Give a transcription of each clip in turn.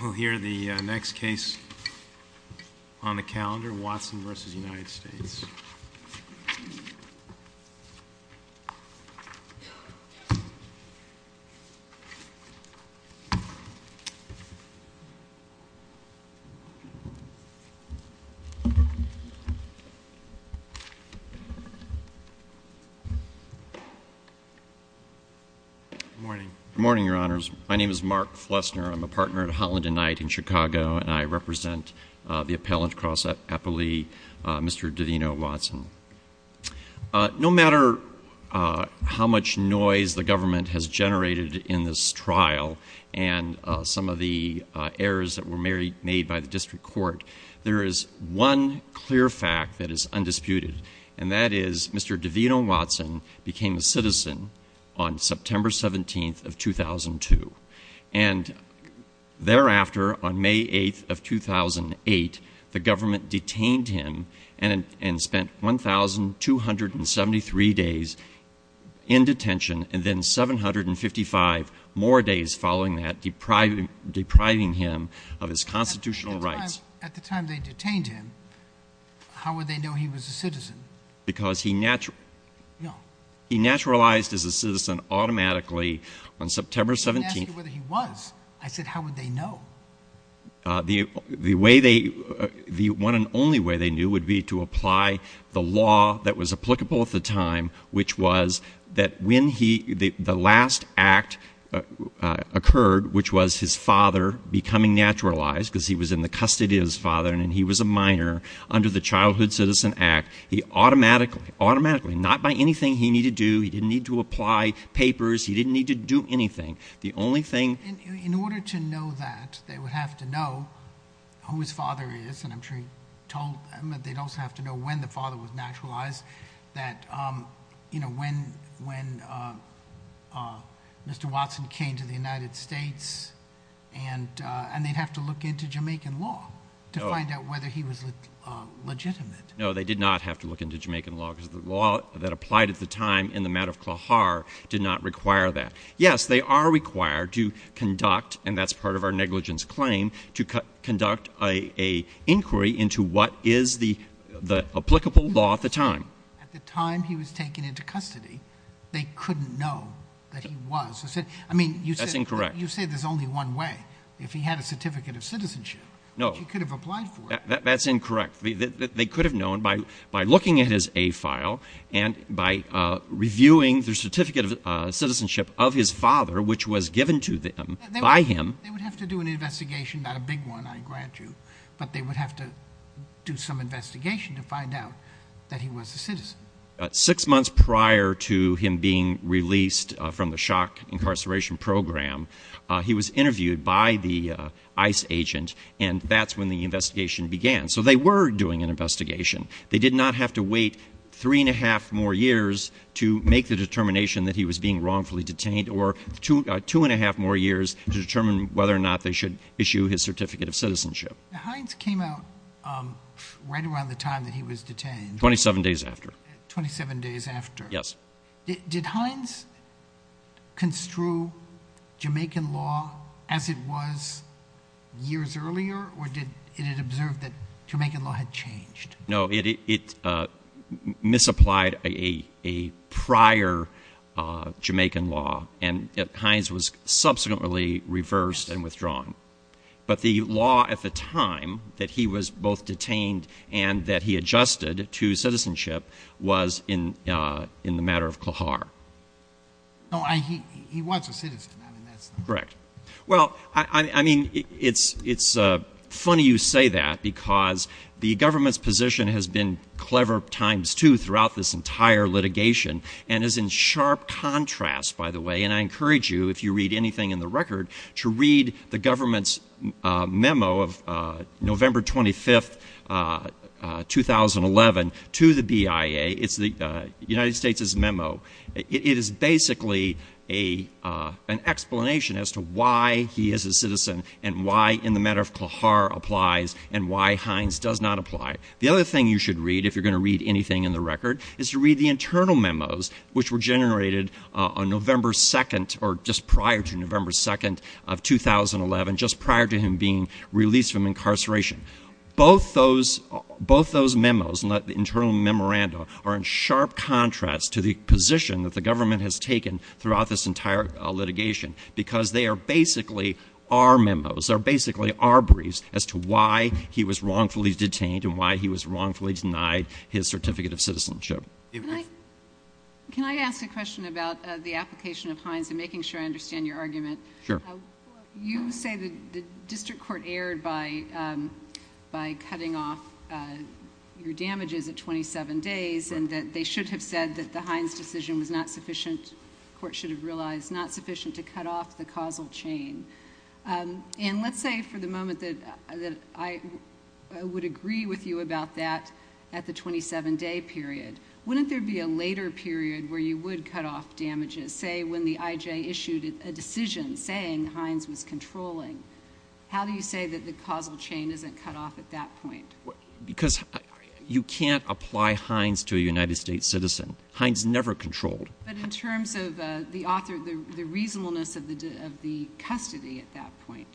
We'll hear the next case on the calendar, Watson v. United States. Good morning, Your Honors. My name is Mark Flessner. I'm a partner at Holland and Knight in Chicago, and I represent the Appellant Cross Appellee, Mr. Devino Watson. No matter how much noise the government has generated in this trial and some of the errors that were made by the District Court, there is one clear fact that is undisputed, and that on May 8th of 2008, the government detained him and spent 1,273 days in detention and then 755 more days following that, depriving him of his constitutional rights. At the time they detained him, how would they know he was a citizen? Because he naturalized as a citizen automatically on September 17th. I asked them whether he was. I said, how would they know? The one and only way they knew would be to apply the law that was applicable at the time, which was that when the last act occurred, which was his father becoming naturalized because he was in the custody of his father and he was a minor under the Childhood Citizen Act, he automatically, automatically, not by anything he needed to do, he didn't need to apply papers, he didn't need to do anything. The only thing— In order to know that, they would have to know who his father is, and I'm sure he told them, but they'd also have to know when the father was naturalized, that when Mr. Watson came to the United States, and they'd have to look into Jamaican law to find out whether he was legitimate. No, they did not have to look into Jamaican law because the law that applied at the time in the matter of Klahar did not require that. Yes, they are required to conduct, and that's part of our negligence claim, to conduct an inquiry into what is the applicable law at the time. At the time he was taken into custody, they couldn't know that he was. I mean, you said— That's incorrect. You say there's only one way. If he had a Certificate of Citizenship, he could have applied for it. That's incorrect. They could have known by looking at his A-file and by reviewing the Certificate of Citizenship of his father, which was given to them by him— They would have to do an investigation, not a big one, I grant you, but they would have to do some investigation to find out that he was a citizen. Six months prior to him being released from the shock incarceration program, he was interviewed by the ICE agent, and that's when the investigation began. So they were doing an investigation. They did not have to wait three and a half more years to make the determination that he was being wrongfully detained or two and a half more years to determine whether or not they should issue his Certificate of Citizenship. Hines came out right around the time that he was detained. Twenty-seven days after. Twenty-seven days after. Yes. Did Hines construe Jamaican law as it was years earlier, or did it observe that Jamaican law had changed? No, it misapplied a prior Jamaican law, and Hines was subsequently reversed and withdrawn. But the law at the time that he was both detained and that he adjusted to citizenship was in the matter of Qahar. No, he was a citizen. Correct. Well, I mean, it's funny you say that because the government's position has been clever times two throughout this entire litigation and is in sharp contrast, by the way, and I encourage you, if you read anything in the record, to read the government's memo of November 25th, 2011, to the BIA. It's the United States' memo. It is basically an explanation as to why he is a citizen and why in the matter of Qahar applies and why Hines does not apply. The other thing you should read, if you're going to read anything in the record, is to read the internal memos which were generated on November 2nd, or just prior to November 2nd of 2011, just prior to him being released from incarceration. Both those memos, the internal memorandum, are in sharp contrast to the position that the government has taken throughout this entire litigation because they are basically our memos. They're basically our briefs as to why he was wrongfully detained and why he was wrongfully denied his certificate of citizenship. Can I ask a question about the application of Hines and making sure I understand your argument? Sure. You say the district court erred by cutting off your damages at twenty-seven days and that they should have said that the Hines decision was not sufficient, the court should have realized, not sufficient to cut off the causal chain. And let's say for the moment that I would agree with you about that at the twenty-seven day period. Wouldn't there be a later period where you would cut off damages, say when the IJ issued a decision saying Hines was controlling? How do you say that the causal chain isn't cut off at that point? Because you can't apply Hines to a United States citizen. Hines never controlled. But in terms of the author, the reasonableness of the custody at that point.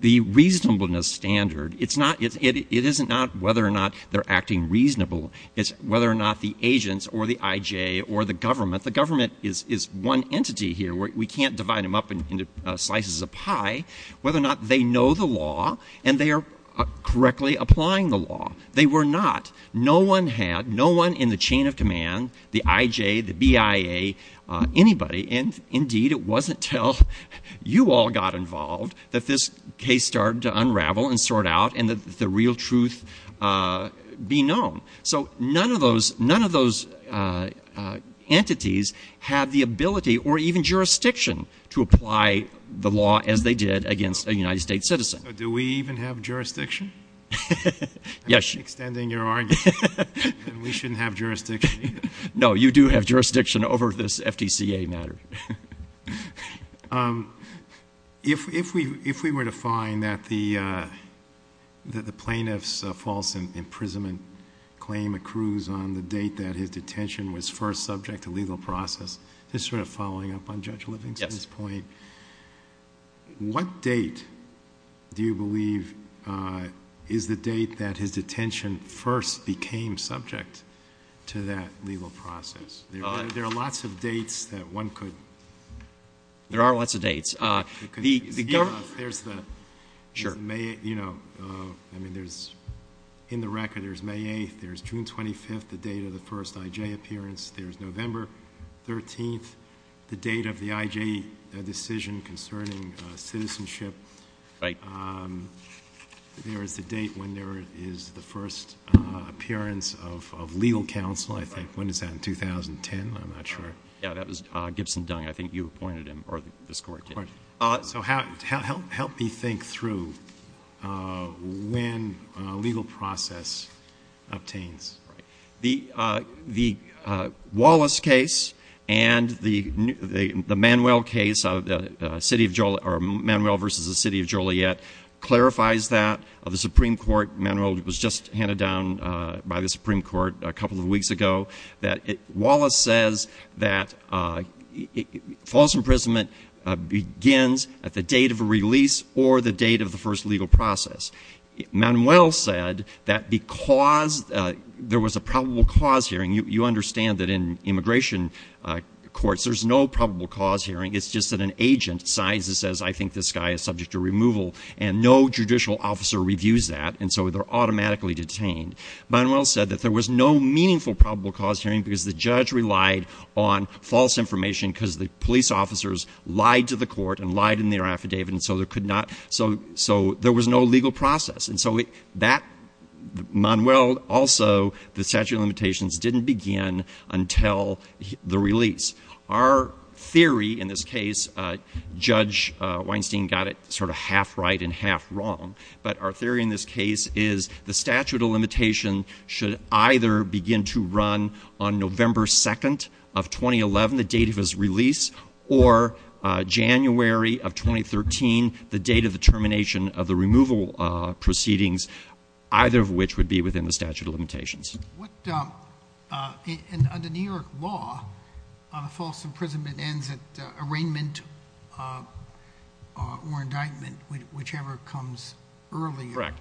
The reasonableness standard, it's not, it isn't not whether or not they're acting reasonable. It's whether or not the agents or the IJ or the government, the government is one entity here. We can't divide them up into slices of pie. Whether or not they know the law and they are correctly applying the law. They were not. No one had, no one in the chain of command, the IJ, the BIA, anybody. And indeed it wasn't until you all got involved that this case started to unravel and sort out and that the real truth be known. So none of those, none of those entities had the ability or even jurisdiction to apply the law as they did against a United States citizen. So do we even have jurisdiction? Yes. I'm extending your argument that we shouldn't have jurisdiction. No, you do have jurisdiction over this FTCA matter. If we, if we were to find that the, uh, that the plaintiff's false imprisonment claim accrues on the date that his detention was first subject to legal process, this sort of following up on Judge Livingston's point. What date do you believe, uh, is the date that his detention first became subject to that legal process? There are lots of dates that one could. There are lots of dates. Uh, there's the, you know, uh, I mean, there's in the record, there's May 8th, there's June 25th, the date of the first IJ appearance. There's November 13th, the date of the IJ decision concerning citizenship. Right. Um, there is the date when there is the first, uh, appearance of, of legal counsel, I think. Right. When is that? In 2010? I'm not sure. Yeah, that was, uh, Gibson Dung. I think you appointed him or this Court did. Right. Uh, so how, help, help me think through, uh, when a legal process obtains. Right. The, uh, the, uh, Wallace case and the, the, the Manuel case of the, uh, City of Joliet or Manuel versus the City of Joliet clarifies that of the Supreme Court. Manuel was just handed down, uh, by the Supreme Court a couple of weeks ago that it, Wallace says that, uh, false imprisonment, uh, begins at the date of a release or the date of the first legal process. Manuel said that because, uh, there was a probable cause hearing, you, you understand that in immigration, uh, courts, there's no probable cause hearing. It's just that an agent signs and says, I think this guy is subject to removal and no judicial officer reviews that and so they're automatically detained. Manuel said that there was no meaningful probable cause hearing because the judge relied on false information because the police officers lied to the court and lied in their affidavit and so there could not, so, so there was no legal process. And so it, that Manuel also, the statute of limitations didn't begin until the release. Our theory in this case, uh, Judge, uh, Weinstein got it sort of half right and half wrong, but our theory in this case is the statute of limitation should either begin to run on termination of the removal, uh, proceedings, either of which would be within the statute of limitations. What, uh, uh, and under New York law, uh, the false imprisonment ends at, uh, arraignment, uh, uh, or indictment, whichever comes early. Correct.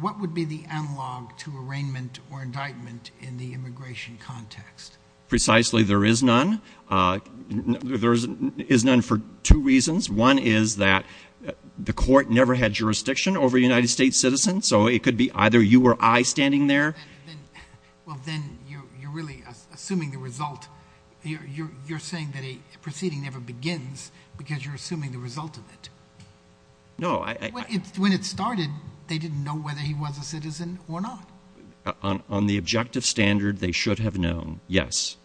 What would be the analog to arraignment or indictment in the immigration context? Precisely. There is none. Uh, there is none for two reasons. One is that the court never had jurisdiction over United States citizens, so it could be either you or I standing there. Well, then you're, you're really assuming the result, you're, you're, you're saying that a proceeding never begins because you're assuming the result of it. No, I, When it started, they didn't know whether he was a citizen or not. On the objective standard, they should have known, yes,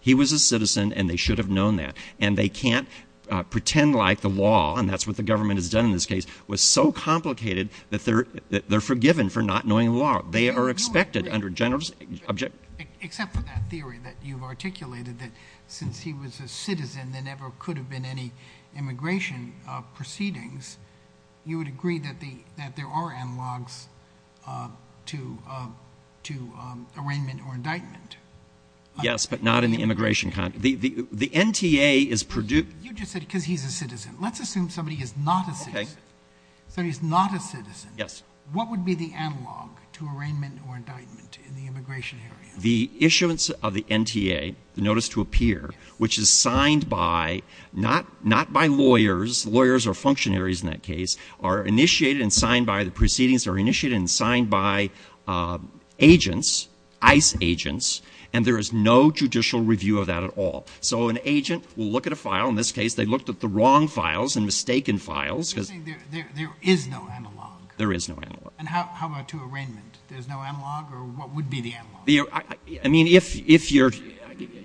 he was a citizen and they should have known that. And they can't, uh, pretend like the law, and that's what the government has done in this case, was so complicated that they're, they're forgiven for not knowing the law. They are expected under general, except for that theory that you've articulated that since he was a citizen, there never could have been any immigration, uh, proceedings. You would agree that the, that there are analogs, uh, to, uh, to, um, arraignment or indictment. Yes, but not in the immigration context. The, the, the NTA is produced. You just said, cause he's a citizen. Let's assume somebody is not a citizen, so he's not a citizen. Yes. What would be the analog to arraignment or indictment in the immigration area? The issuance of the NTA notice to appear, which is signed by not, not by lawyers, lawyers or functionaries in that case are initiated and signed by the proceedings are initiated and signed by, um, agents, ICE agents, and there is no judicial review of that at all. So an agent will look at a file in this case, they looked at the wrong files and mistaken files. Cause there is no analog. There is no analog. And how, how about to arraignment? There's no analog or what would be the analog? I mean, if, if you're,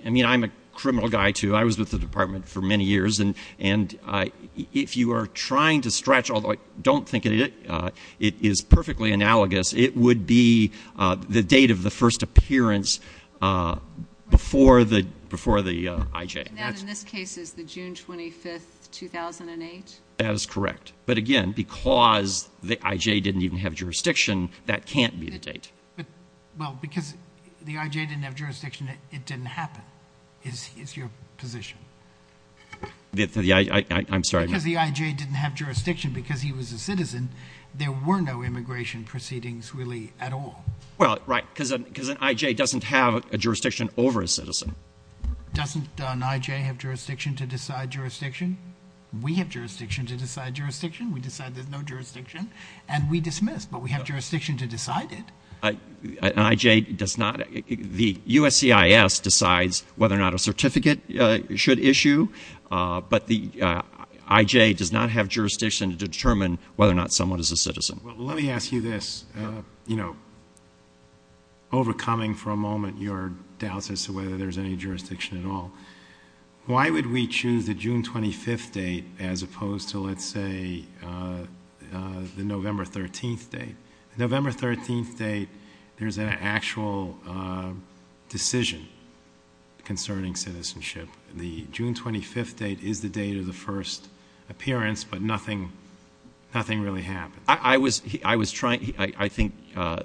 I mean, I'm a criminal guy too. I was with the department for many years and, and I, if you are trying to stretch, although I don't think it, uh, it is perfectly analogous. It would be, uh, the date of the first appearance, uh, before the, before the, uh, IJ. And that in this case is the June 25th, 2008? That is correct. But again, because the IJ didn't even have jurisdiction, that can't be the date. But, well, because the IJ didn't have jurisdiction, it didn't happen. Is, is your position? The, the, I, I, I'm sorry. Because the IJ didn't have jurisdiction because he was a citizen. There were no immigration proceedings really at all. Well, right. Cause, cause an IJ doesn't have a jurisdiction over a citizen. Doesn't an IJ have jurisdiction to decide jurisdiction? We have jurisdiction to decide jurisdiction. We decide there's no jurisdiction and we dismiss, but we have jurisdiction to decide it. An IJ does not, the USCIS decides whether or not a certificate should issue. Uh, but the, uh, IJ does not have jurisdiction to determine whether or not someone is a citizen. Let me ask you this, uh, you know, overcoming for a moment your doubts as to whether there's any jurisdiction at all. Why would we choose the June 25th date as opposed to, let's say, uh, uh, the November 13th date? The November 13th date, there's an actual, uh, decision concerning citizenship. The June 25th date is the date of the first appearance, but nothing, nothing really happened. I was, I was trying, I think, uh,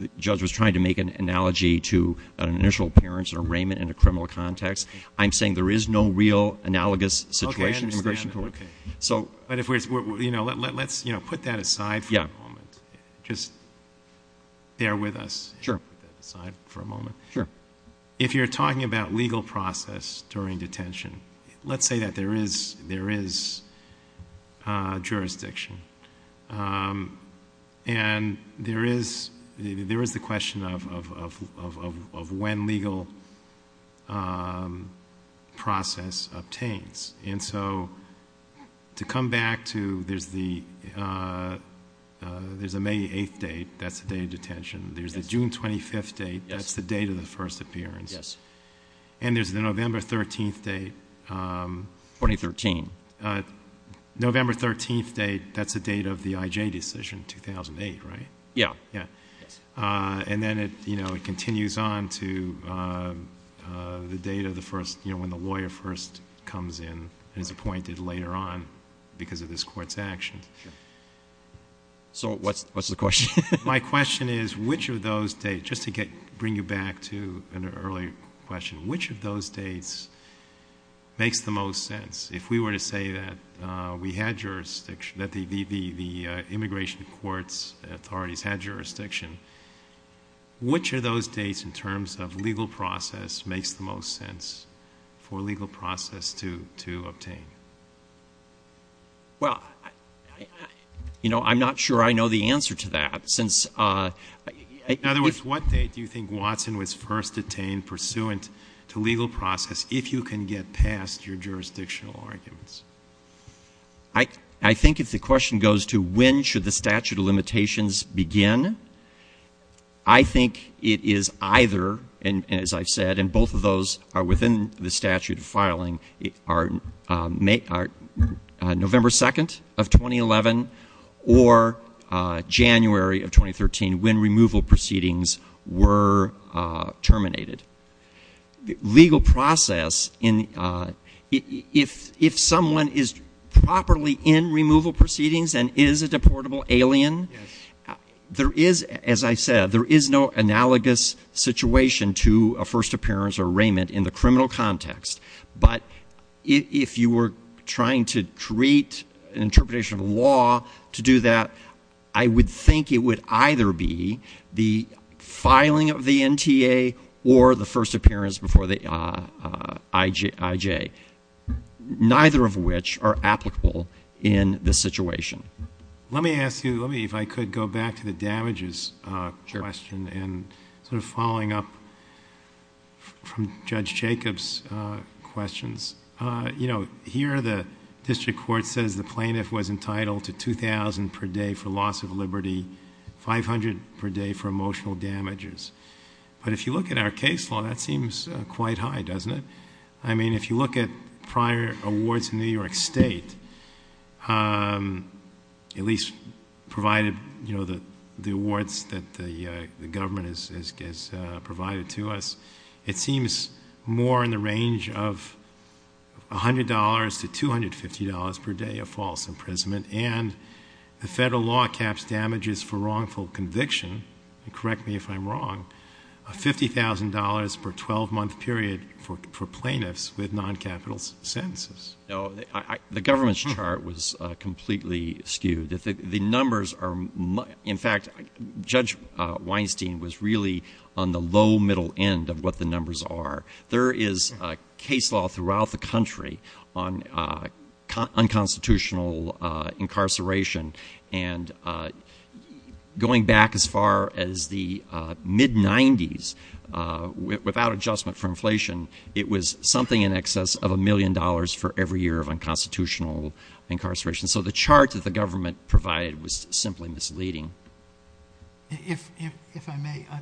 the judge was trying to make an analogy to an initial appearance or arraignment in a criminal context. I'm saying there is no real analogous situation in immigration court. So, but if we're, you know, let's, you know, put that aside for a moment, just bear with us. Sure. Put that aside for a moment. Sure. Um, if you're talking about legal process during detention, let's say that there is, there is a jurisdiction, um, and there is, there is the question of, of, of, of, of when legal, um, process obtains. And so to come back to, there's the, uh, uh, there's a May 8th date, that's the date of detention. There's the June 25th date. Yes. That's the date of the first appearance. Yes. And there's the November 13th date, um... 2013. Uh, November 13th date, that's the date of the IJ decision, 2008, right? Yeah. Yeah. Uh, and then it, you know, it continues on to, um, uh, the date of the first, you know, when the lawyer first comes in and is appointed later on because of this court's actions. So what's, what's the question? My question is, which of those dates, just to get, bring you back to an earlier question, which of those dates makes the most sense? If we were to say that, uh, we had jurisdiction, that the, the, the, uh, immigration courts authorities had jurisdiction, which of those dates in terms of legal process makes the most sense for legal process to, to obtain? Well, I, I, you know, I'm not sure I know the answer to that since, uh... In other words, what date do you think Watson was first detained pursuant to legal process if you can get past your jurisdictional arguments? I, I think if the question goes to when should the statute of limitations begin, I think it is either, and, and as I've said, and both of those are within the statute of filing, are, uh, may, are, uh, November 2nd of 2011 or, uh, January of 2013 when removal proceedings were, uh, terminated. Legal process in, uh, if, if someone is properly in removal proceedings and is a deportable alien, there is, as I said, there is no analogous situation to a first appearance or arraignment in the criminal context, but if, if you were trying to create an interpretation of law to do that, I would think it would either be the filing of the NTA or the first appearance before the, uh, uh, IJ, IJ, neither of which are applicable in this situation. Let me ask you, let me, if I could go back to the damages, uh... Sure.... to Judge Jacob's, uh, questions. Uh, you know, here the district court says the plaintiff was entitled to $2,000 per day for loss of liberty, $500 per day for emotional damages, but if you look at our case law, that seems, uh, quite high, doesn't it? I mean, if you look at prior awards in New York State, um, at least provided, you know, the, the awards that the, uh, the government has, has, uh, provided to us, it seems more in the range of $100 to $250 per day of false imprisonment and the federal law caps damages for wrongful conviction, and correct me if I'm wrong, $50,000 per 12-month period for, for plaintiffs with non-capital sentences. No, I, I, the government's chart was, uh, completely skewed. The, the numbers are, in fact, Judge, uh, Weinstein was really on the low middle end of what the numbers are. There is, uh, case law throughout the country on, uh, unconstitutional, uh, incarceration and, uh, going back as far as the, uh, mid-90s, uh, without adjustment for inflation, it was something in excess of a million dollars for every year of unconstitutional incarceration. So, the chart that the government provided was simply misleading. If, if, if I may, uh,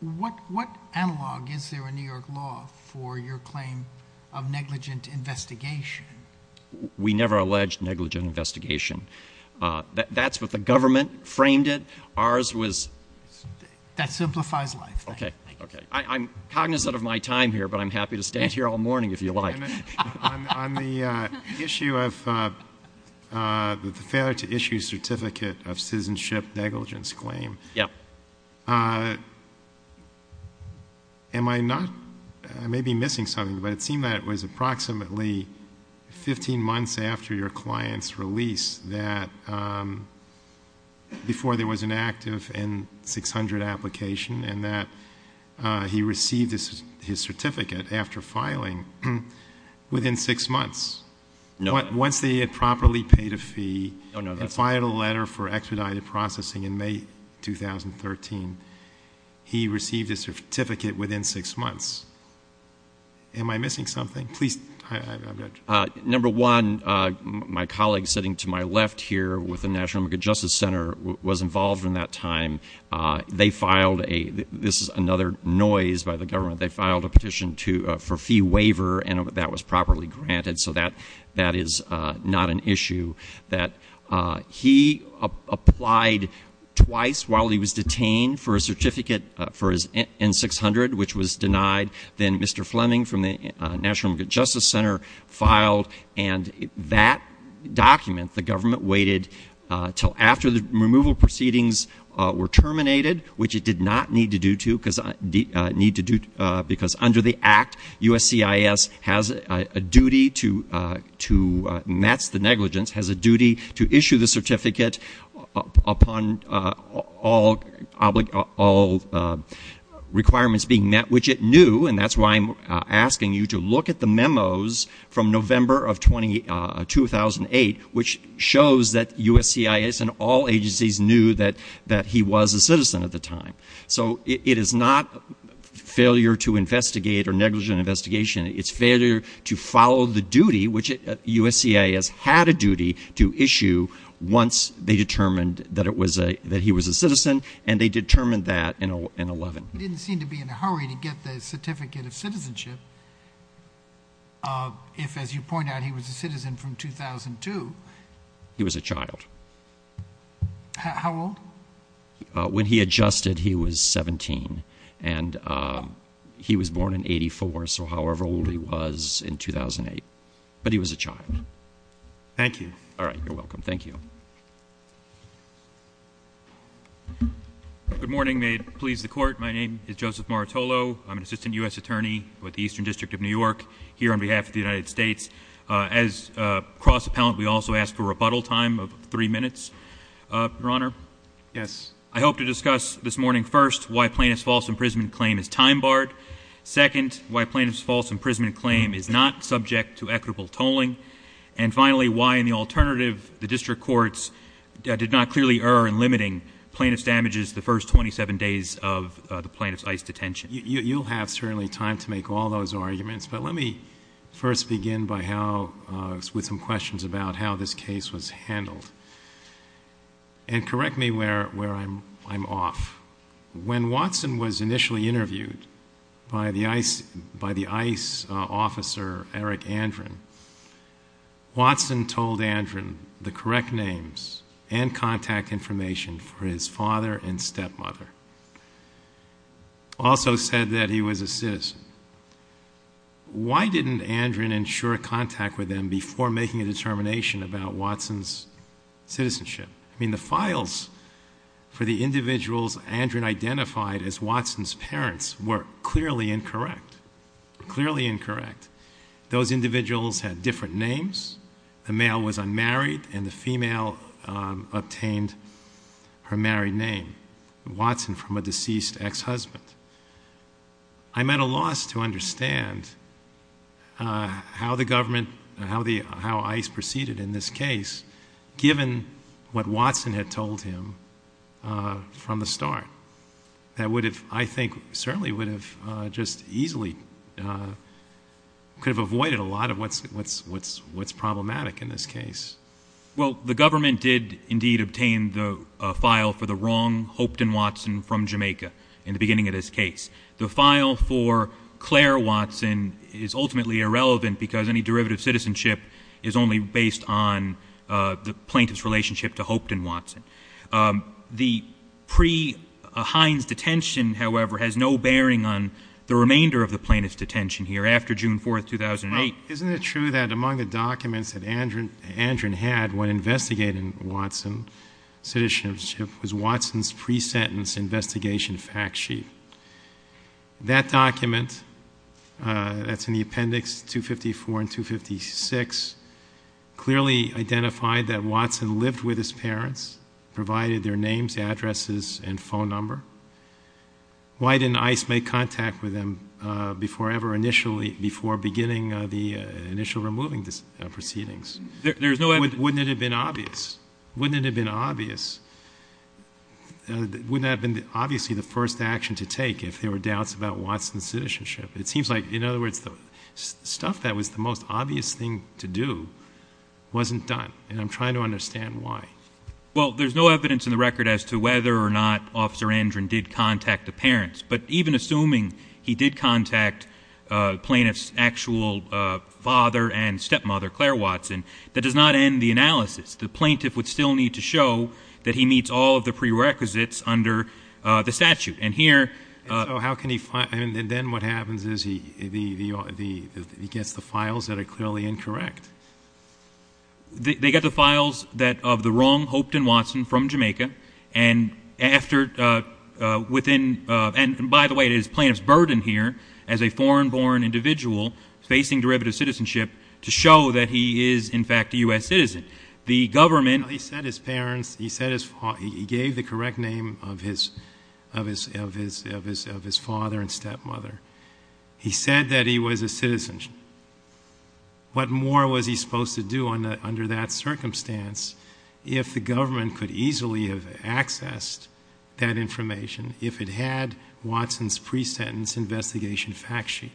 what, what analog is there in New York law for your claim of negligent investigation? We never alleged negligent investigation. Uh, that, that's what the government framed it. Ours was... That simplifies life. Okay, okay. I, I'm cognizant of my time here, but I'm happy to stand here all morning if you like. On, on the, uh, issue of, uh, uh, the failure to issue certificate of citizenship negligence claim. Yep. Uh, am I not, I may be missing something, but it seemed that it was approximately 15 months after your client's release that, um, before there was an active N-600 application and that, uh, he received his, his certificate after filing within six months. No. Once they had properly paid a fee and filed a letter for expedited processing in May 2013, he received a certificate within six months. Am I missing something? Please... Uh, number one, uh, my colleague sitting to my left here with the National American Justice Center was involved in that time. Uh, they filed a, this is another noise by the government, they filed a petition to, uh, for fee waiver and that was properly granted. So that, that is, uh, not an issue that, uh, he applied twice while he was detained for a certificate, uh, for his N-600, which was denied. Then Mr. Fleming from the, uh, National American Justice Center filed and that document, the removal proceedings, uh, were terminated, which it did not need to do to because, uh, need to do, uh, because under the act, USCIS has a duty to, uh, to match the negligence, has a duty to issue the certificate upon, uh, all oblig, all, uh, requirements being met, which it knew and that's why I'm, uh, asking you to look at the memos from November of 20, uh, 2008, which shows that USCIS and all agencies knew that, that he was a citizen at the time. So, it, it is not failure to investigate or negligent investigation, it's failure to follow the duty, which it, uh, USCIS had a duty to issue once they determined that it was a, that he was a citizen and they determined that in a, in 11. He didn't seem to be in a hurry to get the certificate of citizenship, uh, if as you point out, he was a citizen from 2002. He was a child. How old? Uh, when he adjusted, he was 17 and, um, he was born in 84, so however old he was in 2008, but he was a child. Thank you. All right, you're welcome. Thank you. Good morning. May it please the court. My name is Joseph Martolo. I'm an assistant U.S. attorney with the Eastern District of New York here on behalf of the United States. Uh, as, uh, cross appellant, we also ask for a rebuttal time of three minutes. Uh, Your Honor. Yes. I hope to discuss this morning, first, why plaintiff's false imprisonment claim is time barred. Second, why plaintiff's false imprisonment claim is not subject to equitable tolling. And finally, why in the alternative, the district courts, uh, did not clearly err in limiting plaintiff's damages the first 27 days of, uh, the plaintiff's ICE detention. You, you'll have certainly time to make all those arguments, but let me first begin by how, uh, with some questions about how this case was handled. And correct me where, where I'm, I'm off. When Watson was initially interviewed by the ICE, by the ICE, uh, officer, Eric Andron, Watson told Andron the correct names and contact information for his father and stepmother. Also said that he was a citizen. Why didn't Andron ensure contact with them before making a determination about Watson's citizenship? I mean, the files for the individuals Andron identified as Watson's parents were clearly incorrect, clearly incorrect. Those individuals had different names. The male was unmarried and the female, um, obtained her married name, Watson from a deceased ex-husband. I'm at a loss to understand, uh, how the government, how the, how ICE proceeded in this case, given what Watson had told him, uh, from the start. That would have, I think certainly would have, uh, just easily, uh, could have avoided a lot of what's, what's, what's, what's problematic in this case. Well, the government did indeed obtain the, uh, file for the wrong Hopeton Watson from Jamaica in the beginning of this case. Uh, the plaintiff's relationship to Hopeton Watson. Um, the pre Heinz detention, however, has no bearing on the remainder of the plaintiff's detention here after June 4th, 2008. Isn't it true that among the documents that Andron, Andron had when investigating Watson citizenship was Watson's pre-sentence investigation fact sheet. That document, uh, that's in the appendix 254 and 256, clearly identifies Watson's citizenship. It identified that Watson lived with his parents, provided their names, addresses, and phone number. Why didn't ICE make contact with him, uh, before ever initially, before beginning, uh, the, uh, initial removing this, uh, proceedings? There, there's no evidence. Wouldn't it have been obvious? Wouldn't it have been obvious? Uh, wouldn't that have been obviously the first action to take if there were doubts about Watson's citizenship? It seems like, in other words, the stuff that was the most obvious thing to do wasn't done. And I'm trying to understand why. Well, there's no evidence in the record as to whether or not officer Andron did contact the parents. But even assuming he did contact, uh, plaintiff's actual, uh, father and stepmother, Claire Watson, that does not end the analysis. The plaintiff would still need to show that he meets all of the prerequisites under, uh, the statute. And here, uh. So how can he find, and then what happens is he, the, the, the, the, he gets the files that are clearly incorrect. They, they get the files that, of the wrong Hopeton Watson from Jamaica. And after, uh, uh, within, uh, and by the way, it is plaintiff's burden here as a foreign born individual facing derivative citizenship to show that he is in fact a U.S. citizen. The government. He said his parents, he said his, he gave the correct name of his, of his, of his, of his, of his father and stepmother. He said that he was a citizen. What more was he supposed to do on the, under that circumstance? If the government could easily have accessed that information, if it had Watson's pre-sentence investigation fact sheet.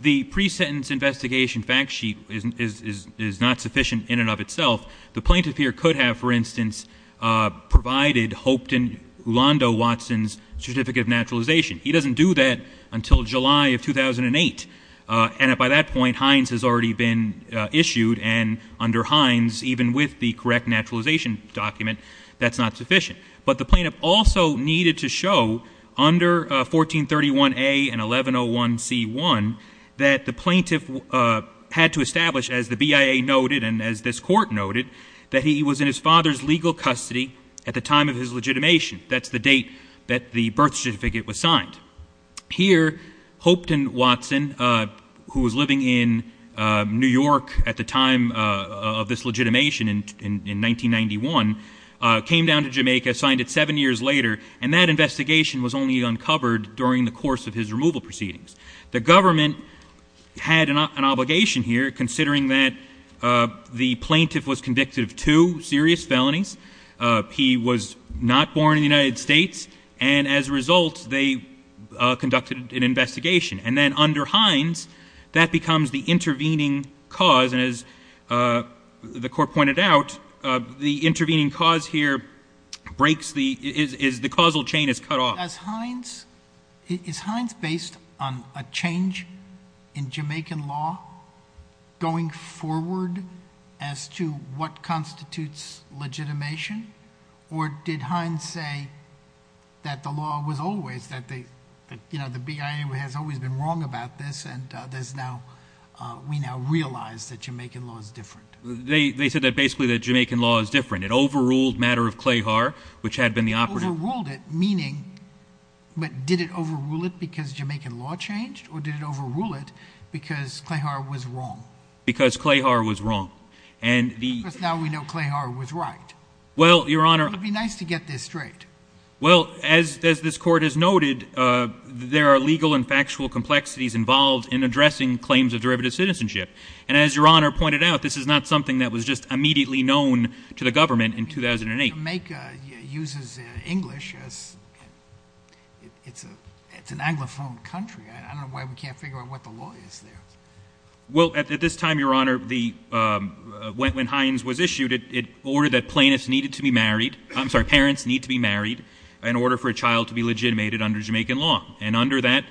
The pre-sentence investigation fact sheet is, is, is, is not sufficient in and of itself. The plaintiff here could have, for instance, uh, provided Hopeton Ulando Watson's certificate of naturalization. He doesn't do that until July of 2008. Uh, and by that point, Heinz has already been, uh, issued and under Heinz, even with the correct naturalization document, that's not sufficient. But the plaintiff also needed to show under, uh, 1431A and 1101C1 that the plaintiff, uh, had to establish as the BIA noted, and as this court noted, that he was in his father's legal custody at the time of his legitimation. That's the date that the birth certificate was signed. Here, Hopeton Watson, uh, who was living in, uh, New York at the time, uh, uh, of this legitimation in, in, in 1991, uh, came down to Jamaica, signed it seven years later, and that investigation was only uncovered during the course of his removal proceedings. The government had an obligation here considering that, uh, the plaintiff was convicted of two serious felonies. Uh, he was not born in the United States, and as a result, they, uh, conducted an investigation. And then under Heinz, that becomes the intervening cause, and as, uh, the court pointed out, uh, the intervening cause here breaks the, is, is the causal chain is cut off. As Heinz, is, is Heinz based on a change in Jamaican law going forward as to what constitutes legitimation, or did Heinz say that the law was always, that they, that, you know, the BIA has always been wrong about this, and, uh, there's now, uh, we now realize that Jamaican law is different. They, they said that basically that Jamaican law is different. It overruled matter of Clayhar, which had been the operative. Overruled it, meaning, but did it overrule it because Jamaican law changed, or did it overrule it because Clayhar was wrong? Because Clayhar was wrong. And the- Because now we know Clayhar was right. Well, Your Honor- It would be nice to get this straight. Well, as, as this court has noted, uh, there are legal and factual complexities involved in addressing claims of derivative citizenship. And as Your Honor pointed out, this is not something that was just immediately known to the government in 2008. I mean, Jamaica uses, uh, English as, it's a, it's an anglophone country. I, I don't know why we can't figure out what the law is there. Well, at, at this time, Your Honor, the, um, when, when Hines was issued, it, it ordered that plaintiffs needed to be married. I'm sorry, parents need to be married in order for a child to be legitimated under Jamaican law. And under that,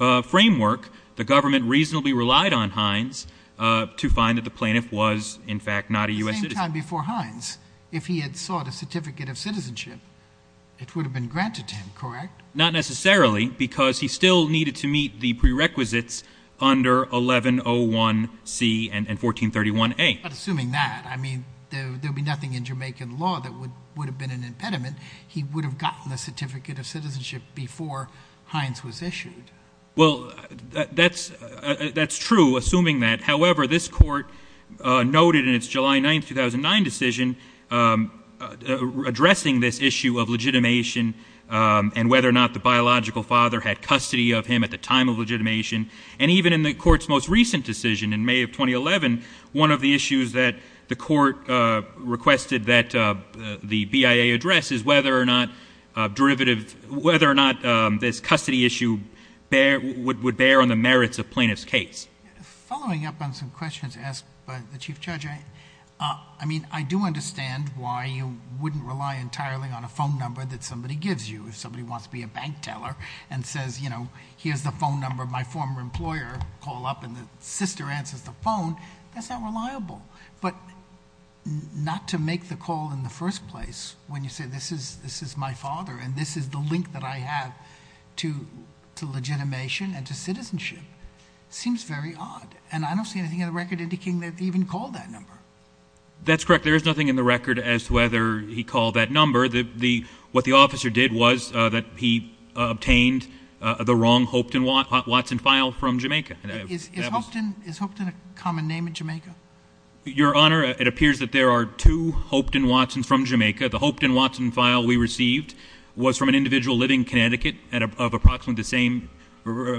uh, framework, the government reasonably relied on Hines, uh, to find that the plaintiff was, in fact, not a U.S. citizen. At the same time before Hines, if he had sought a certificate of citizenship, it would have been granted to him, correct? Not necessarily, because he still needed to meet the prerequisites under 1101C and, and 1431A. But assuming that, I mean, there, there would be nothing in Jamaican law that would, would have been an impediment. He would have gotten the certificate of citizenship before Hines was issued. Well, that, that's, uh, that's true, assuming that. However, this court, uh, noted in its July 9th, 2009 decision, um, uh, addressing this issue of legitimation, um, and whether or not the biological father had custody of him at the time of legitimation. And even in the court's most recent decision in May of 2011, one of the issues that the court, uh, requested that, uh, the BIA address is whether or not, uh, derivative, whether or not, um, this custody issue bear, would, would bear on the merits of plaintiff's case. Following up on some questions asked by the Chief Judge, I, uh, I mean, I do understand why you wouldn't rely entirely on a phone number that somebody gives you. If somebody wants to be a bank teller and says, you know, here's the phone number of my former employer, call up and the sister answers the phone, that's not reliable. But not to make the call in the first place when you say, this is, this is my father and this is the link that I have to, to legitimation and to citizenship seems very odd. And I don't see anything in the record indicating that even called that number. That's correct. There is nothing in the record as to whether he called that number, the, the, what the officer did was, uh, that he obtained the wrong Hopeton Watson file from Jamaica. Is Hopeton a common name in Jamaica? Your Honor, it appears that there are two Hopeton Watsons from Jamaica. The Hopeton Watson file we received was from an individual living in Connecticut at approximately the same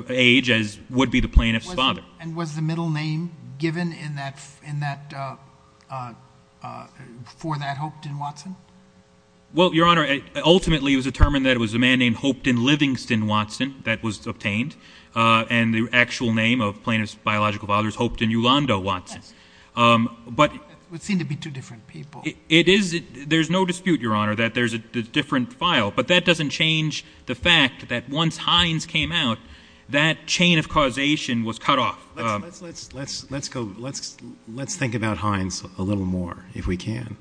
age as would be the plaintiff's father. And was the middle name given in that, in that, uh, uh, uh, for that Hopeton Watson? Well, Your Honor, it ultimately was determined that it was a man named Hopeton Livingston Watson that was obtained, uh, and the actual name of plaintiff's biological father is Hopeton Yolanda Watson. Um, but it would seem to be two different people. It is. There's no dispute, Your Honor, that there's a different file, but that doesn't change the fact that once Heinz came out, that chain of causation was cut off. Let's, let's, let's, let's go, let's, let's think about Heinz a little more if we can.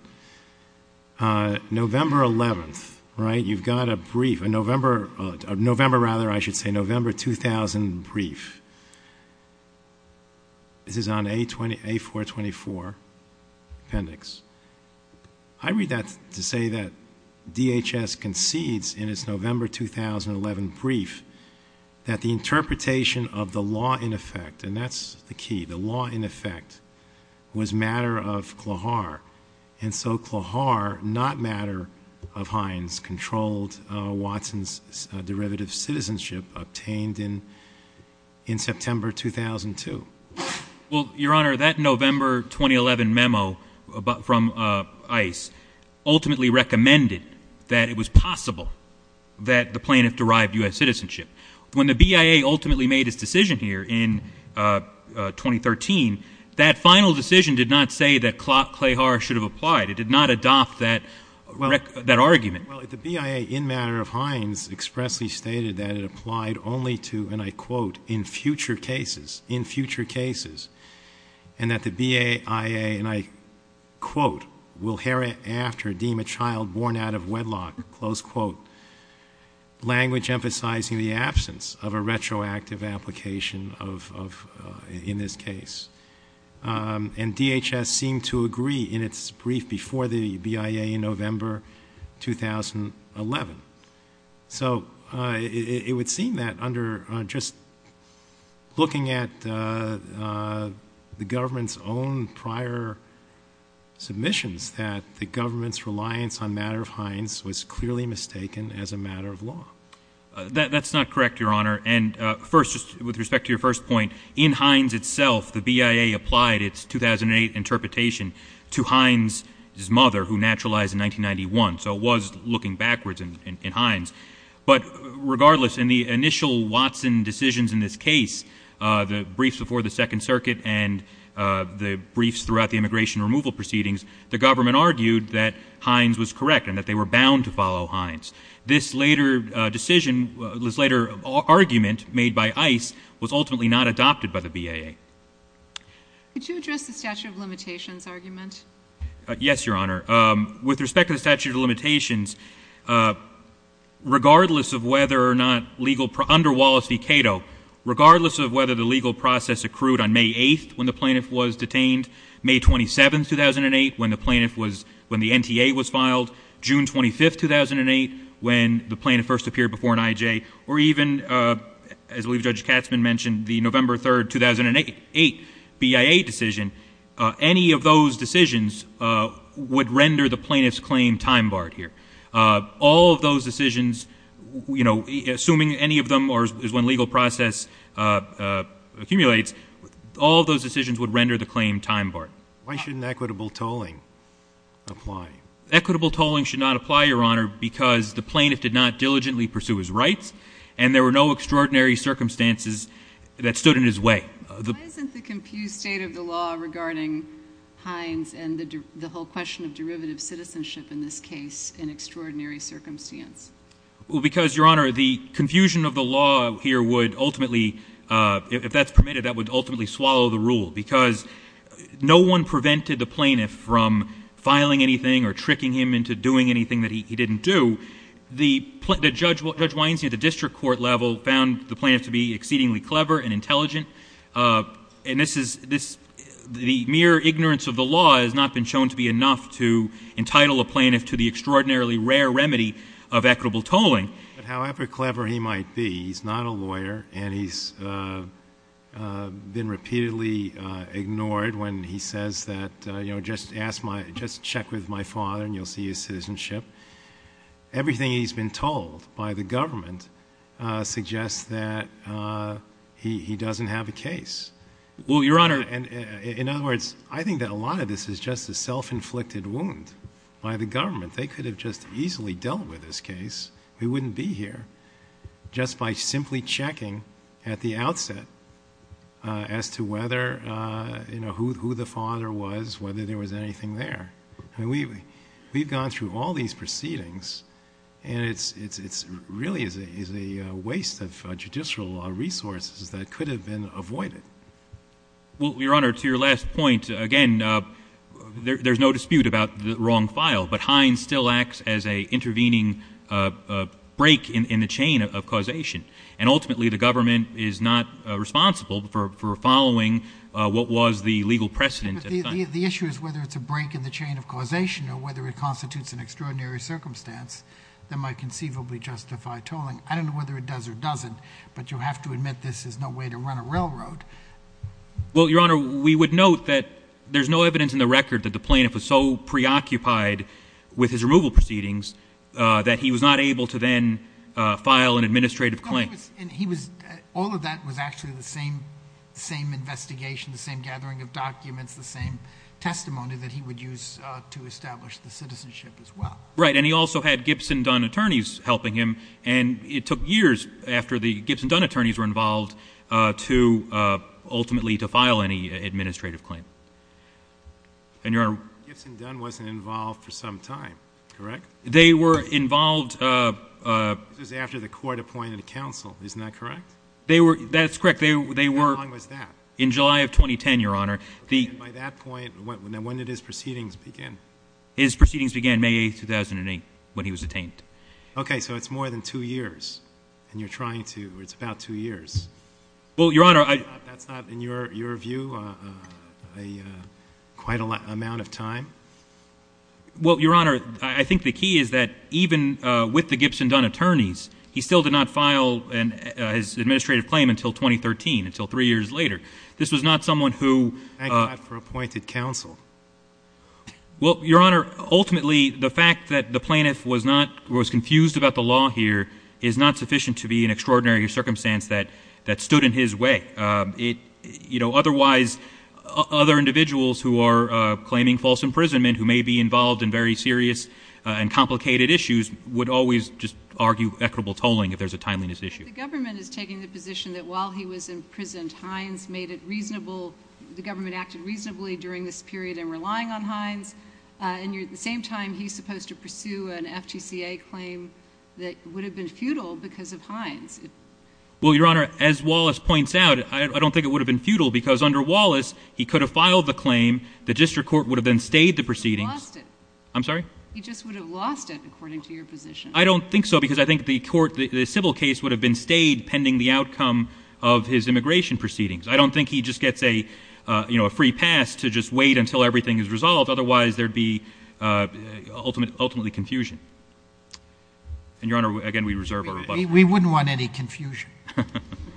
Uh, November 11th, right? You've got a brief, a November, uh, November, rather, I should say November, 2000 brief. This is on a 20, a four 24 appendix. I read that to say that DHS concedes in its November, 2011 brief that the interpretation of the law in effect, and that's the key, the law in effect was matter of Klohear. And so Klohear not matter of Heinz controlled, uh, Watson's derivative citizenship obtained in, in September, 2002. Well, Your Honor, that November, 2011 memo from, uh, ICE ultimately recommended that it was possible that the plaintiff derived us citizenship when the BIA ultimately made his decision here in, uh, uh, 2013, that final decision did not say that Klohear should have applied. It did not adopt that, that argument. Well, the BIA in matter of Heinz expressly stated that it applied only to, and I quote in future cases in future cases and that the BIA, and I quote, we'll hear it after deem a child born out of wedlock, close quote, language emphasizing the absence of a retroactive application of, of, uh, in this case. Um, and DHS seemed to agree in its brief before the BIA in November, 2011. So, uh, it, it would seem that under, uh, just looking at, uh, uh, the government's own prior submissions that the government's reliance on matter of Heinz was clearly mistaken as a matter of law. That's not correct, Your Honor. And, uh, first, just with respect to your first point in Heinz itself, the BIA applied its 2008 interpretation to Heinz his mother who naturalized in 1991. So it was looking backwards in, in, in Heinz, but regardless, in the initial Watson decisions in this case, uh, the briefs before the second circuit and, uh, the briefs throughout the immigration removal proceedings, the government argued that Heinz was correct and that they were bound to follow Heinz. This later decision was later argument made by ice was ultimately not adopted by the BIA. Could you address the statute of limitations argument? Uh, yes, Your Honor. Um, with respect to the statute of limitations, uh, regardless of whether or not legal under Wallace V. Cato, regardless of whether the legal process accrued on May 8th, when the plaintiff was detained May 27th, 2008, when the plaintiff was, when the NTA was filed June 25th, 2008, when the plaintiff first appeared before an IJ or even, uh, as we've judged Katzman mentioned the November 3rd, 2008, eight BIA decision. Uh, any of those decisions, uh, would render the plaintiff's claim time barred here. Uh, all of those decisions, you know, assuming any of them or is when legal process, uh, uh, accumulates, all of those decisions would render the claim time barred. Why shouldn't equitable tolling apply? Equitable tolling should not apply Your Honor because the plaintiff did not diligently pursue his rights and there were no extraordinary circumstances that stood in his way. Why isn't the confused state of the law regarding Heinz and the, the whole question of derivative citizenship in this case, in extraordinary circumstance? Well, because Your Honor, the confusion of the law here would ultimately, uh, if that's permitted, that would ultimately swallow the rule because no one prevented the plaintiff from filing anything or tricking him into doing anything that he didn't do. The judge, Judge Weinstein, at the district court level found the plaintiff to be exceedingly clever and intelligent. Uh, and this is, this, the mere ignorance of the law has not been shown to be enough to entitle a plaintiff to the extraordinarily rare remedy of equitable tolling. But however clever he might be, he's not a lawyer and he's, uh, uh, been repeatedly, uh, ignored when he says that, uh, you know, just ask my, just check with my father and you'll see his citizenship. Everything he's been told by the government, uh, suggests that, uh, he, he doesn't have a case. Well, Your Honor, and in other words, I think that a lot of this is just a self inflicted wound by the government. They could have just easily dealt with this case. We wouldn't be here just by simply checking at the outset, uh, as to whether, uh, you know, who, who the father was, whether there was anything there. I mean, we've gone through all these proceedings and it's, it's, it's really is a waste of judicial resources that could have been avoided. Well, Your Honor, to your last point again, uh, there, there's no dispute about the wrong file, but Heinz still acts as a intervening, uh, uh, break in the chain of causation and ultimately the government is not, uh, responsible for, for following, uh, what was the legal precedent. The issue is whether it's a break in the chain of causation or whether it constitutes an extraordinary circumstance that might conceivably justify tolling. I don't know whether it does or doesn't, but you'll have to admit this is no way to run a railroad. Well, Your Honor, we would note that there's no evidence in the record that the plaintiff was so preoccupied with his removal proceedings, uh, that he was not able to then, uh, file an administrative claim. And he was, all of that was actually the same, same investigation, the same gathering of documents, the same testimony that he would use to establish the citizenship as well. Right. And he also had Gibson Dunn attorneys helping him. And it took years after the Gibson Dunn attorneys were involved, uh, to, uh, ultimately to file any administrative claim. And Your Honor. Gibson Dunn wasn't involved for some time, correct? They were involved, uh, uh. This was after the court appointed a counsel, isn't that correct? They were, that's correct. They, they were. How long was that? In July of 2010, Your Honor. By that point, when did his proceedings begin? His proceedings began May 8th, 2008 when he was detained. Okay. So it's more than two years and you're trying to, it's about two years. Well, Your Honor, I. That's not, that's not in your, your view, uh, uh, a, uh, quite a lot, amount of time. Well, Your Honor, I, I think the key is that even, uh, with the Gibson Dunn attorneys, he still did not file an, uh, his administrative claim until 2013, until three years later. This was not someone who, uh. Thank God for appointed counsel. Well, Your Honor, ultimately the fact that the plaintiff was not, was confused about the law here is not sufficient to be an extraordinary circumstance that, that stood in his way. Uh, it, you know, otherwise, uh, other individuals who are, uh, claiming false imprisonment who may be involved in very serious, uh, and complicated issues would always just argue equitable tolling if there's a timeliness issue. The government is taking the position that while he was imprisoned, Hines made it reasonable, the government acted reasonably during this period in relying on Hines. Uh, and you're, at the same time, he's supposed to pursue an FTCA claim that would have been futile because of Hines. Well, Your Honor, as Wallace points out, I, I don't think it would have been futile because under Wallace, he could have filed the claim, the district court would have then stayed the proceedings. He lost it. I'm sorry? He just would have lost it according to your position. I don't think so because I think the court, the, the civil case would have been stayed pending the outcome of his immigration proceedings. I don't think he just gets a, uh, you know, a free pass to just wait until everything is resolved. Otherwise, there'd be, uh, ultimate, ultimately confusion. And Your Honor, again, we reserve our rebuttal. We wouldn't want any confusion.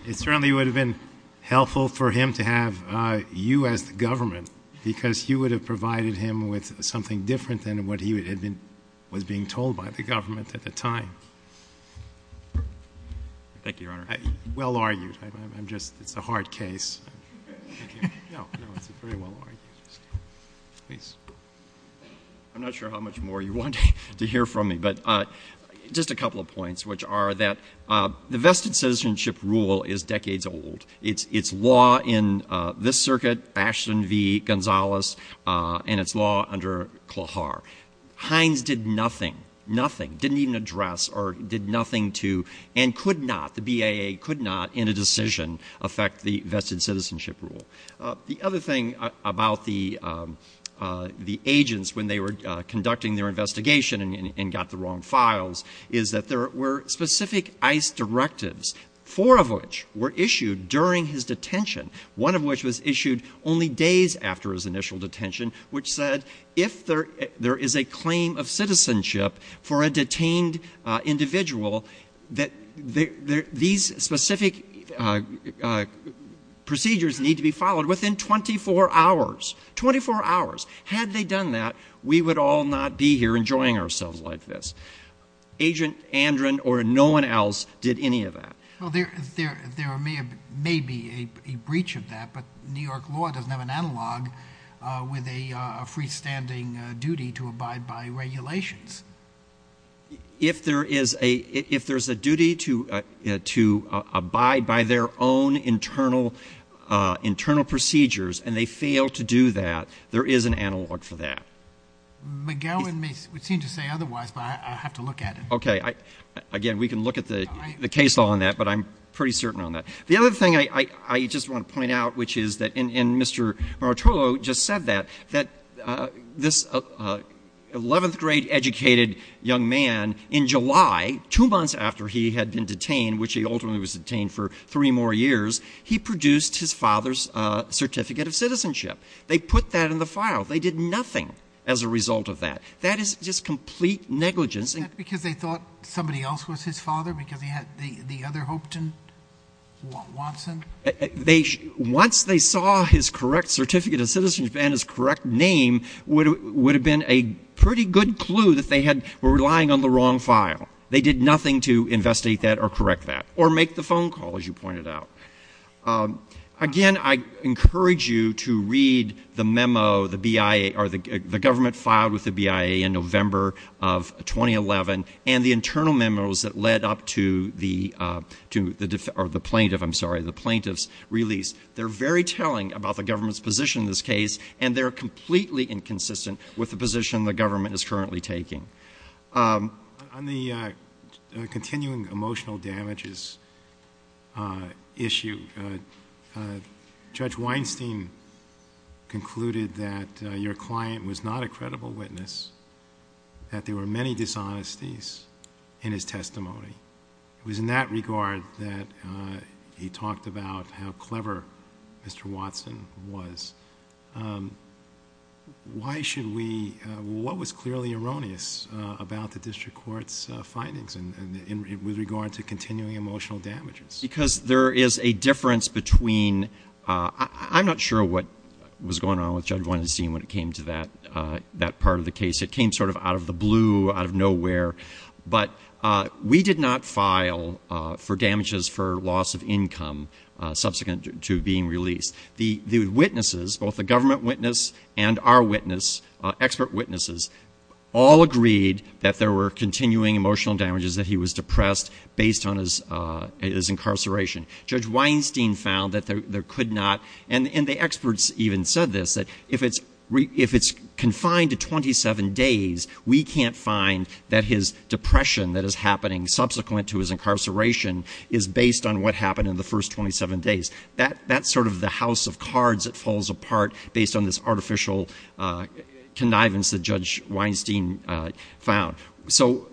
It certainly would have been helpful for him to have, uh, you as the government because you would have provided him with something different than what he had been, was being told by the government at the time. Thank you, Your Honor. Well argued. I'm just, it's a hard case. No, no, it's very well argued. Please. I'm not sure how much more you want to hear from me, but, uh, just a couple of points, which are that, uh, the vested citizenship rule is decades old. It's, it's law in, uh, this circuit, Ashton v. Gonzalez, uh, and it's law under Klohear. Hines did nothing, nothing, didn't even address or did nothing to, and could not, the BAA could not in a decision affect the vested citizenship rule. Uh, the other thing about the, um, uh, the agents when they were, uh, conducting their investigation and, and, and got the wrong files is that there were specific ICE directives, four of which were issued during his detention, one of which was issued only days after his initial detention, which said if there, there is a claim of citizenship for a detained, uh, individual, that there, there, these specific, uh, uh, procedures need to be followed within 24 hours, 24 hours. Had they done that, we would all not be here enjoying ourselves like this. Agent Andron or no one else did any of that. Well, there, there, there may have, may be a, a breach of that, but New York law doesn't have an analog, uh, with a, a freestanding, uh, duty to abide by regulations. If there is a, if there's a duty to, uh, uh, to abide by their own internal, uh, internal procedures and they fail to do that, there is an analog for that. McGowan may, would seem to say otherwise, but I, I have to look at it. Okay. I, again, we can look at the, the case law on that, but I'm pretty certain on that. The other thing I, I, I just want to point out, which is that, and, and Mr. Marottolo just said that, that, uh, this, uh, uh, 11th grade educated young man in July, two months after he had been detained, which he ultimately was detained for three more years, he produced his father's, uh, certificate of citizenship. They put that in the file. They did nothing as a result of that. That is just complete negligence. Is that because they thought somebody else was his father because he had the, the other Hopeton, Watson? They, once they saw his correct certificate of citizenship and his correct name would, would have been a pretty good clue that they had, were relying on the wrong file. They did nothing to investigate that or correct that or make the phone call as you pointed out. Um, again, I encourage you to read the memo, the BIA or the, the government filed with the BIA in November of 2011 and the internal memos that led up to the, uh, to the, or the plaintiff, I'm sorry, the plaintiff's release. They're very telling about the government's position in this case, and they're completely inconsistent with the position the government is currently taking. Um. On the, uh, uh, continuing emotional damages, uh, issue, uh, uh, Judge Weinstein concluded that, uh, your client was not a credible witness, that there were many dishonesties in his testimony. It was in that regard that, uh, he talked about how clever Mr. Watson was. Um, why should we, uh, what was clearly erroneous, uh, about the district court's, uh, findings in, in, in, with regard to continuing emotional damages? Because there is a difference between, uh, I, I'm not sure what was going on with Judge Weinstein when it came to that, uh, that part of the case. It came sort of out of the blue, out of nowhere. But, uh, we did not file, uh, for damages for loss of income, uh, subsequent to being released. The, the witnesses, both the government witness and our witness, uh, expert witnesses, all agreed that there were continuing emotional damages, that he was depressed based on his, uh, his incarceration. Judge Weinstein found that there, there could not, and, and the experts even said this, that if it's, if it's confined to 27 days, we can't find that his depression that is happening subsequent to his incarceration is based on what happened in the first 27 days. That, that's sort of the house of cards that falls apart based on this artificial, uh, connivance that Judge Weinstein, uh, found. So,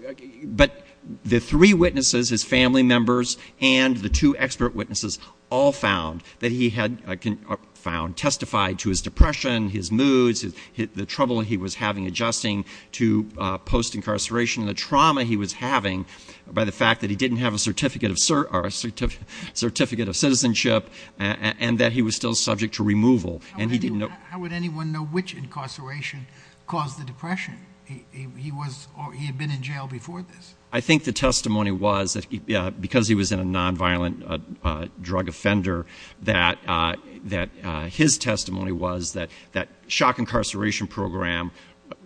but the three witnesses, his family members and the two expert witnesses all found that he had, uh, can, uh, found, testified to his depression, his moods, his, the trouble he was having adjusting to, uh, post-incarceration, the trauma he was having by the fact that he didn't have a certificate of, or a certificate of citizenship, and, and that he was still subject to removal, and he didn't know. How would anyone know which incarceration caused the depression? He, he was, he had been in jail before this. I think the testimony was that, uh, because he was in a non-violent, uh, uh, drug offender, that, uh, that, uh, his testimony was that, that shock incarceration program,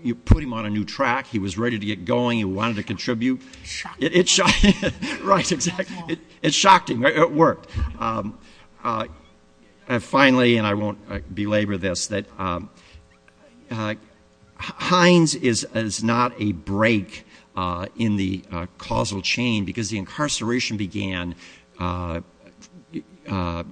you put him on a new track, he was ready to get going, he wanted to contribute. Shocking. It, it shocked him. Right, exactly. It shocked him. It worked. Um, uh, and finally, and I won't belabor this, that, um, uh, Hines is, is not a break, uh, in the, uh, causal chain because the incarceration began, uh, uh,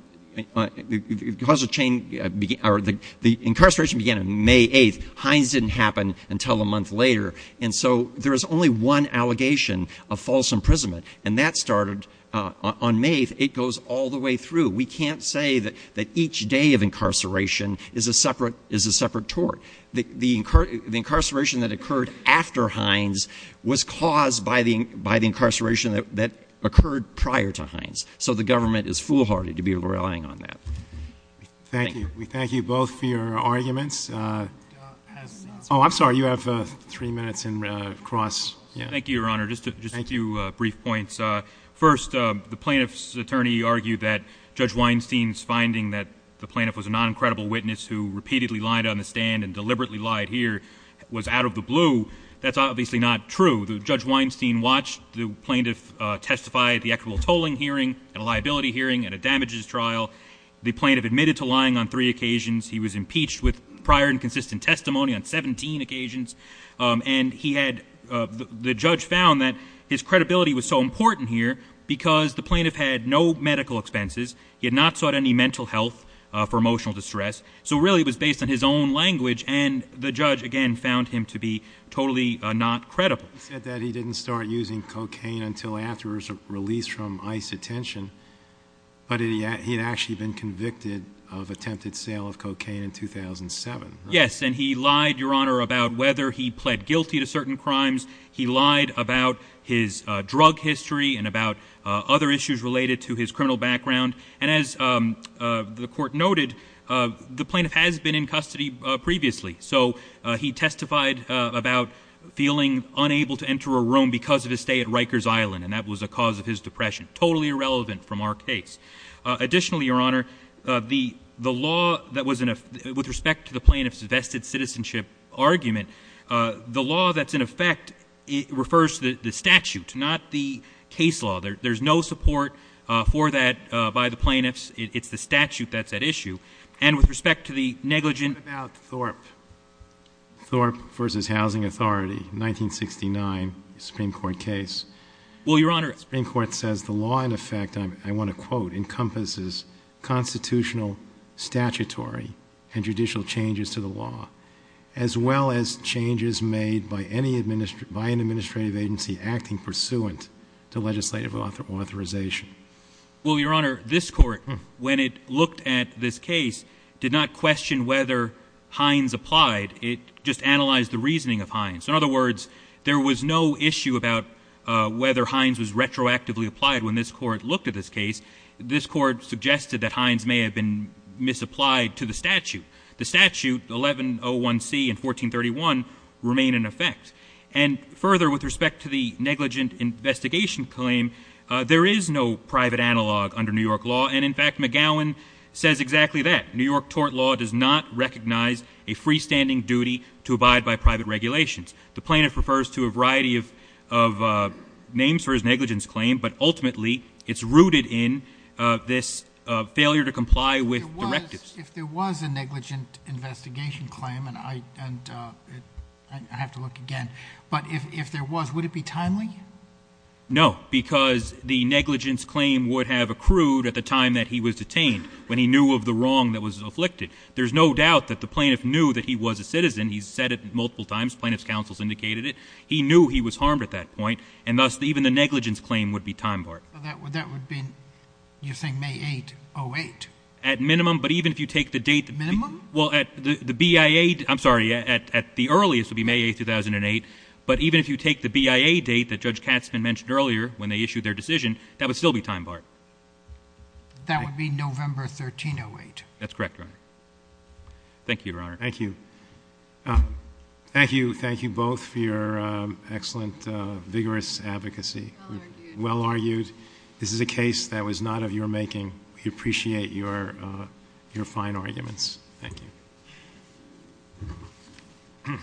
uh, the, the causal chain began, or the, the incarceration began on May 8th. Hines didn't happen until a month later. And so there is only one allegation of false imprisonment, and that started, uh, on, on May 8th. It goes all the way through. We can't say that, that each day of incarceration is a separate, is a separate tort. The, the, the incarceration that occurred after Hines was caused by the, by the incarceration that, that occurred prior to Hines. So the government is foolhardy to be relying on that. Thank you. We thank you both for your arguments. Uh, oh, I'm sorry, you have, uh, three minutes in, uh, cross. Thank you, Your Honor. Just a, just a few, uh, brief points. Uh, first, uh, the plaintiff's attorney argued that Judge Weinstein's finding that the plaintiff was a non-incredible witness who repeatedly lied on the stand and deliberately lied here was out of the blue. That's obviously not true. The, Judge Weinstein watched the plaintiff, uh, testify at the equitable tolling hearing, at a liability hearing, at a damages trial. The plaintiff admitted to lying on three occasions. He was impeached with prior and consistent testimony on 17 occasions. Um, and he had, uh, the, the judge found that his credibility was so important here because the plaintiff had no medical expenses. He had not sought any mental health, uh, for emotional distress. So really it was based on his own language and the judge, again, found him to be totally, uh, not credible. He said that he didn't start using cocaine until after his release from ICE detention. But he had, he had actually been convicted of attempted sale of cocaine in 2007. Yes, and he lied, Your Honor, about whether he pled guilty to certain crimes. He lied about his, uh, drug history and about, uh, other issues related to his criminal background. And as, um, uh, the court noted, uh, the plaintiff has been in custody, uh, previously. So, uh, he testified, uh, about feeling unable to enter a room because of his stay at Rikers Island. And that was a cause of his depression. Totally irrelevant from our case. Uh, additionally, Your Honor, uh, the, the law that was in a, with respect to the plaintiff's vested citizenship argument, uh, the law that's in effect, it refers to the, the statute, not the case law. There, there's no support, uh, for that, uh, by the plaintiffs. It, it's the statute that's at issue. And with respect to the negligent. What about Thorpe? Thorpe v. Housing Authority, 1969 Supreme Court case. Well, Your Honor. Supreme Court says the law, in effect, I'm, I want to quote, encompasses constitutional statutory and judicial changes to the law, as well as changes made by any administer, by an administrative agency acting pursuant to legislative authorization. Well, Your Honor, this court, when it looked at this case, did not question whether Hines applied. It just analyzed the reasoning of Hines. In other words, there was no issue about, uh, whether Hines was retroactively applied when this court looked at this case. This court suggested that Hines may have been misapplied to the statute. The statute, 1101C and 1431, remain in effect. And further, with respect to the negligent investigation claim, uh, there is no private analog under New York law. And in fact, McGowan says exactly that. New York tort law does not recognize a freestanding duty to abide by private regulations. The plaintiff refers to a variety of, of, uh, names for his negligence claim. But ultimately, it's rooted in, uh, this, uh, failure to comply with directives. If there was a negligent investigation claim, and I, and, uh, I have to look again. But if, if there was, would it be timely? No, because the negligence claim would have accrued at the time that he was detained. When he knew of the wrong that was afflicted. There's no doubt that the plaintiff knew that he was a citizen. He's said it multiple times. Plaintiff's counsel's indicated it. He knew he was harmed at that point. And thus, even the negligence claim would be time barred. That would, that would be, you're saying May 8, 08? At minimum, but even if you take the date. Minimum? Well, at the, the BIA, I'm sorry, at, at the earliest would be May 8, 2008. But even if you take the BIA date that Judge Katzman mentioned earlier, when they issued their decision, that would still be time barred. That would be November 13, 08. That's correct, Your Honor. Thank you, Your Honor. Thank you. Uh, thank you, thank you both for your, um, excellent, uh, vigorous advocacy. Well argued. Well argued. This is a case that was not of your making. We appreciate your, uh, your fine arguments. Thank you.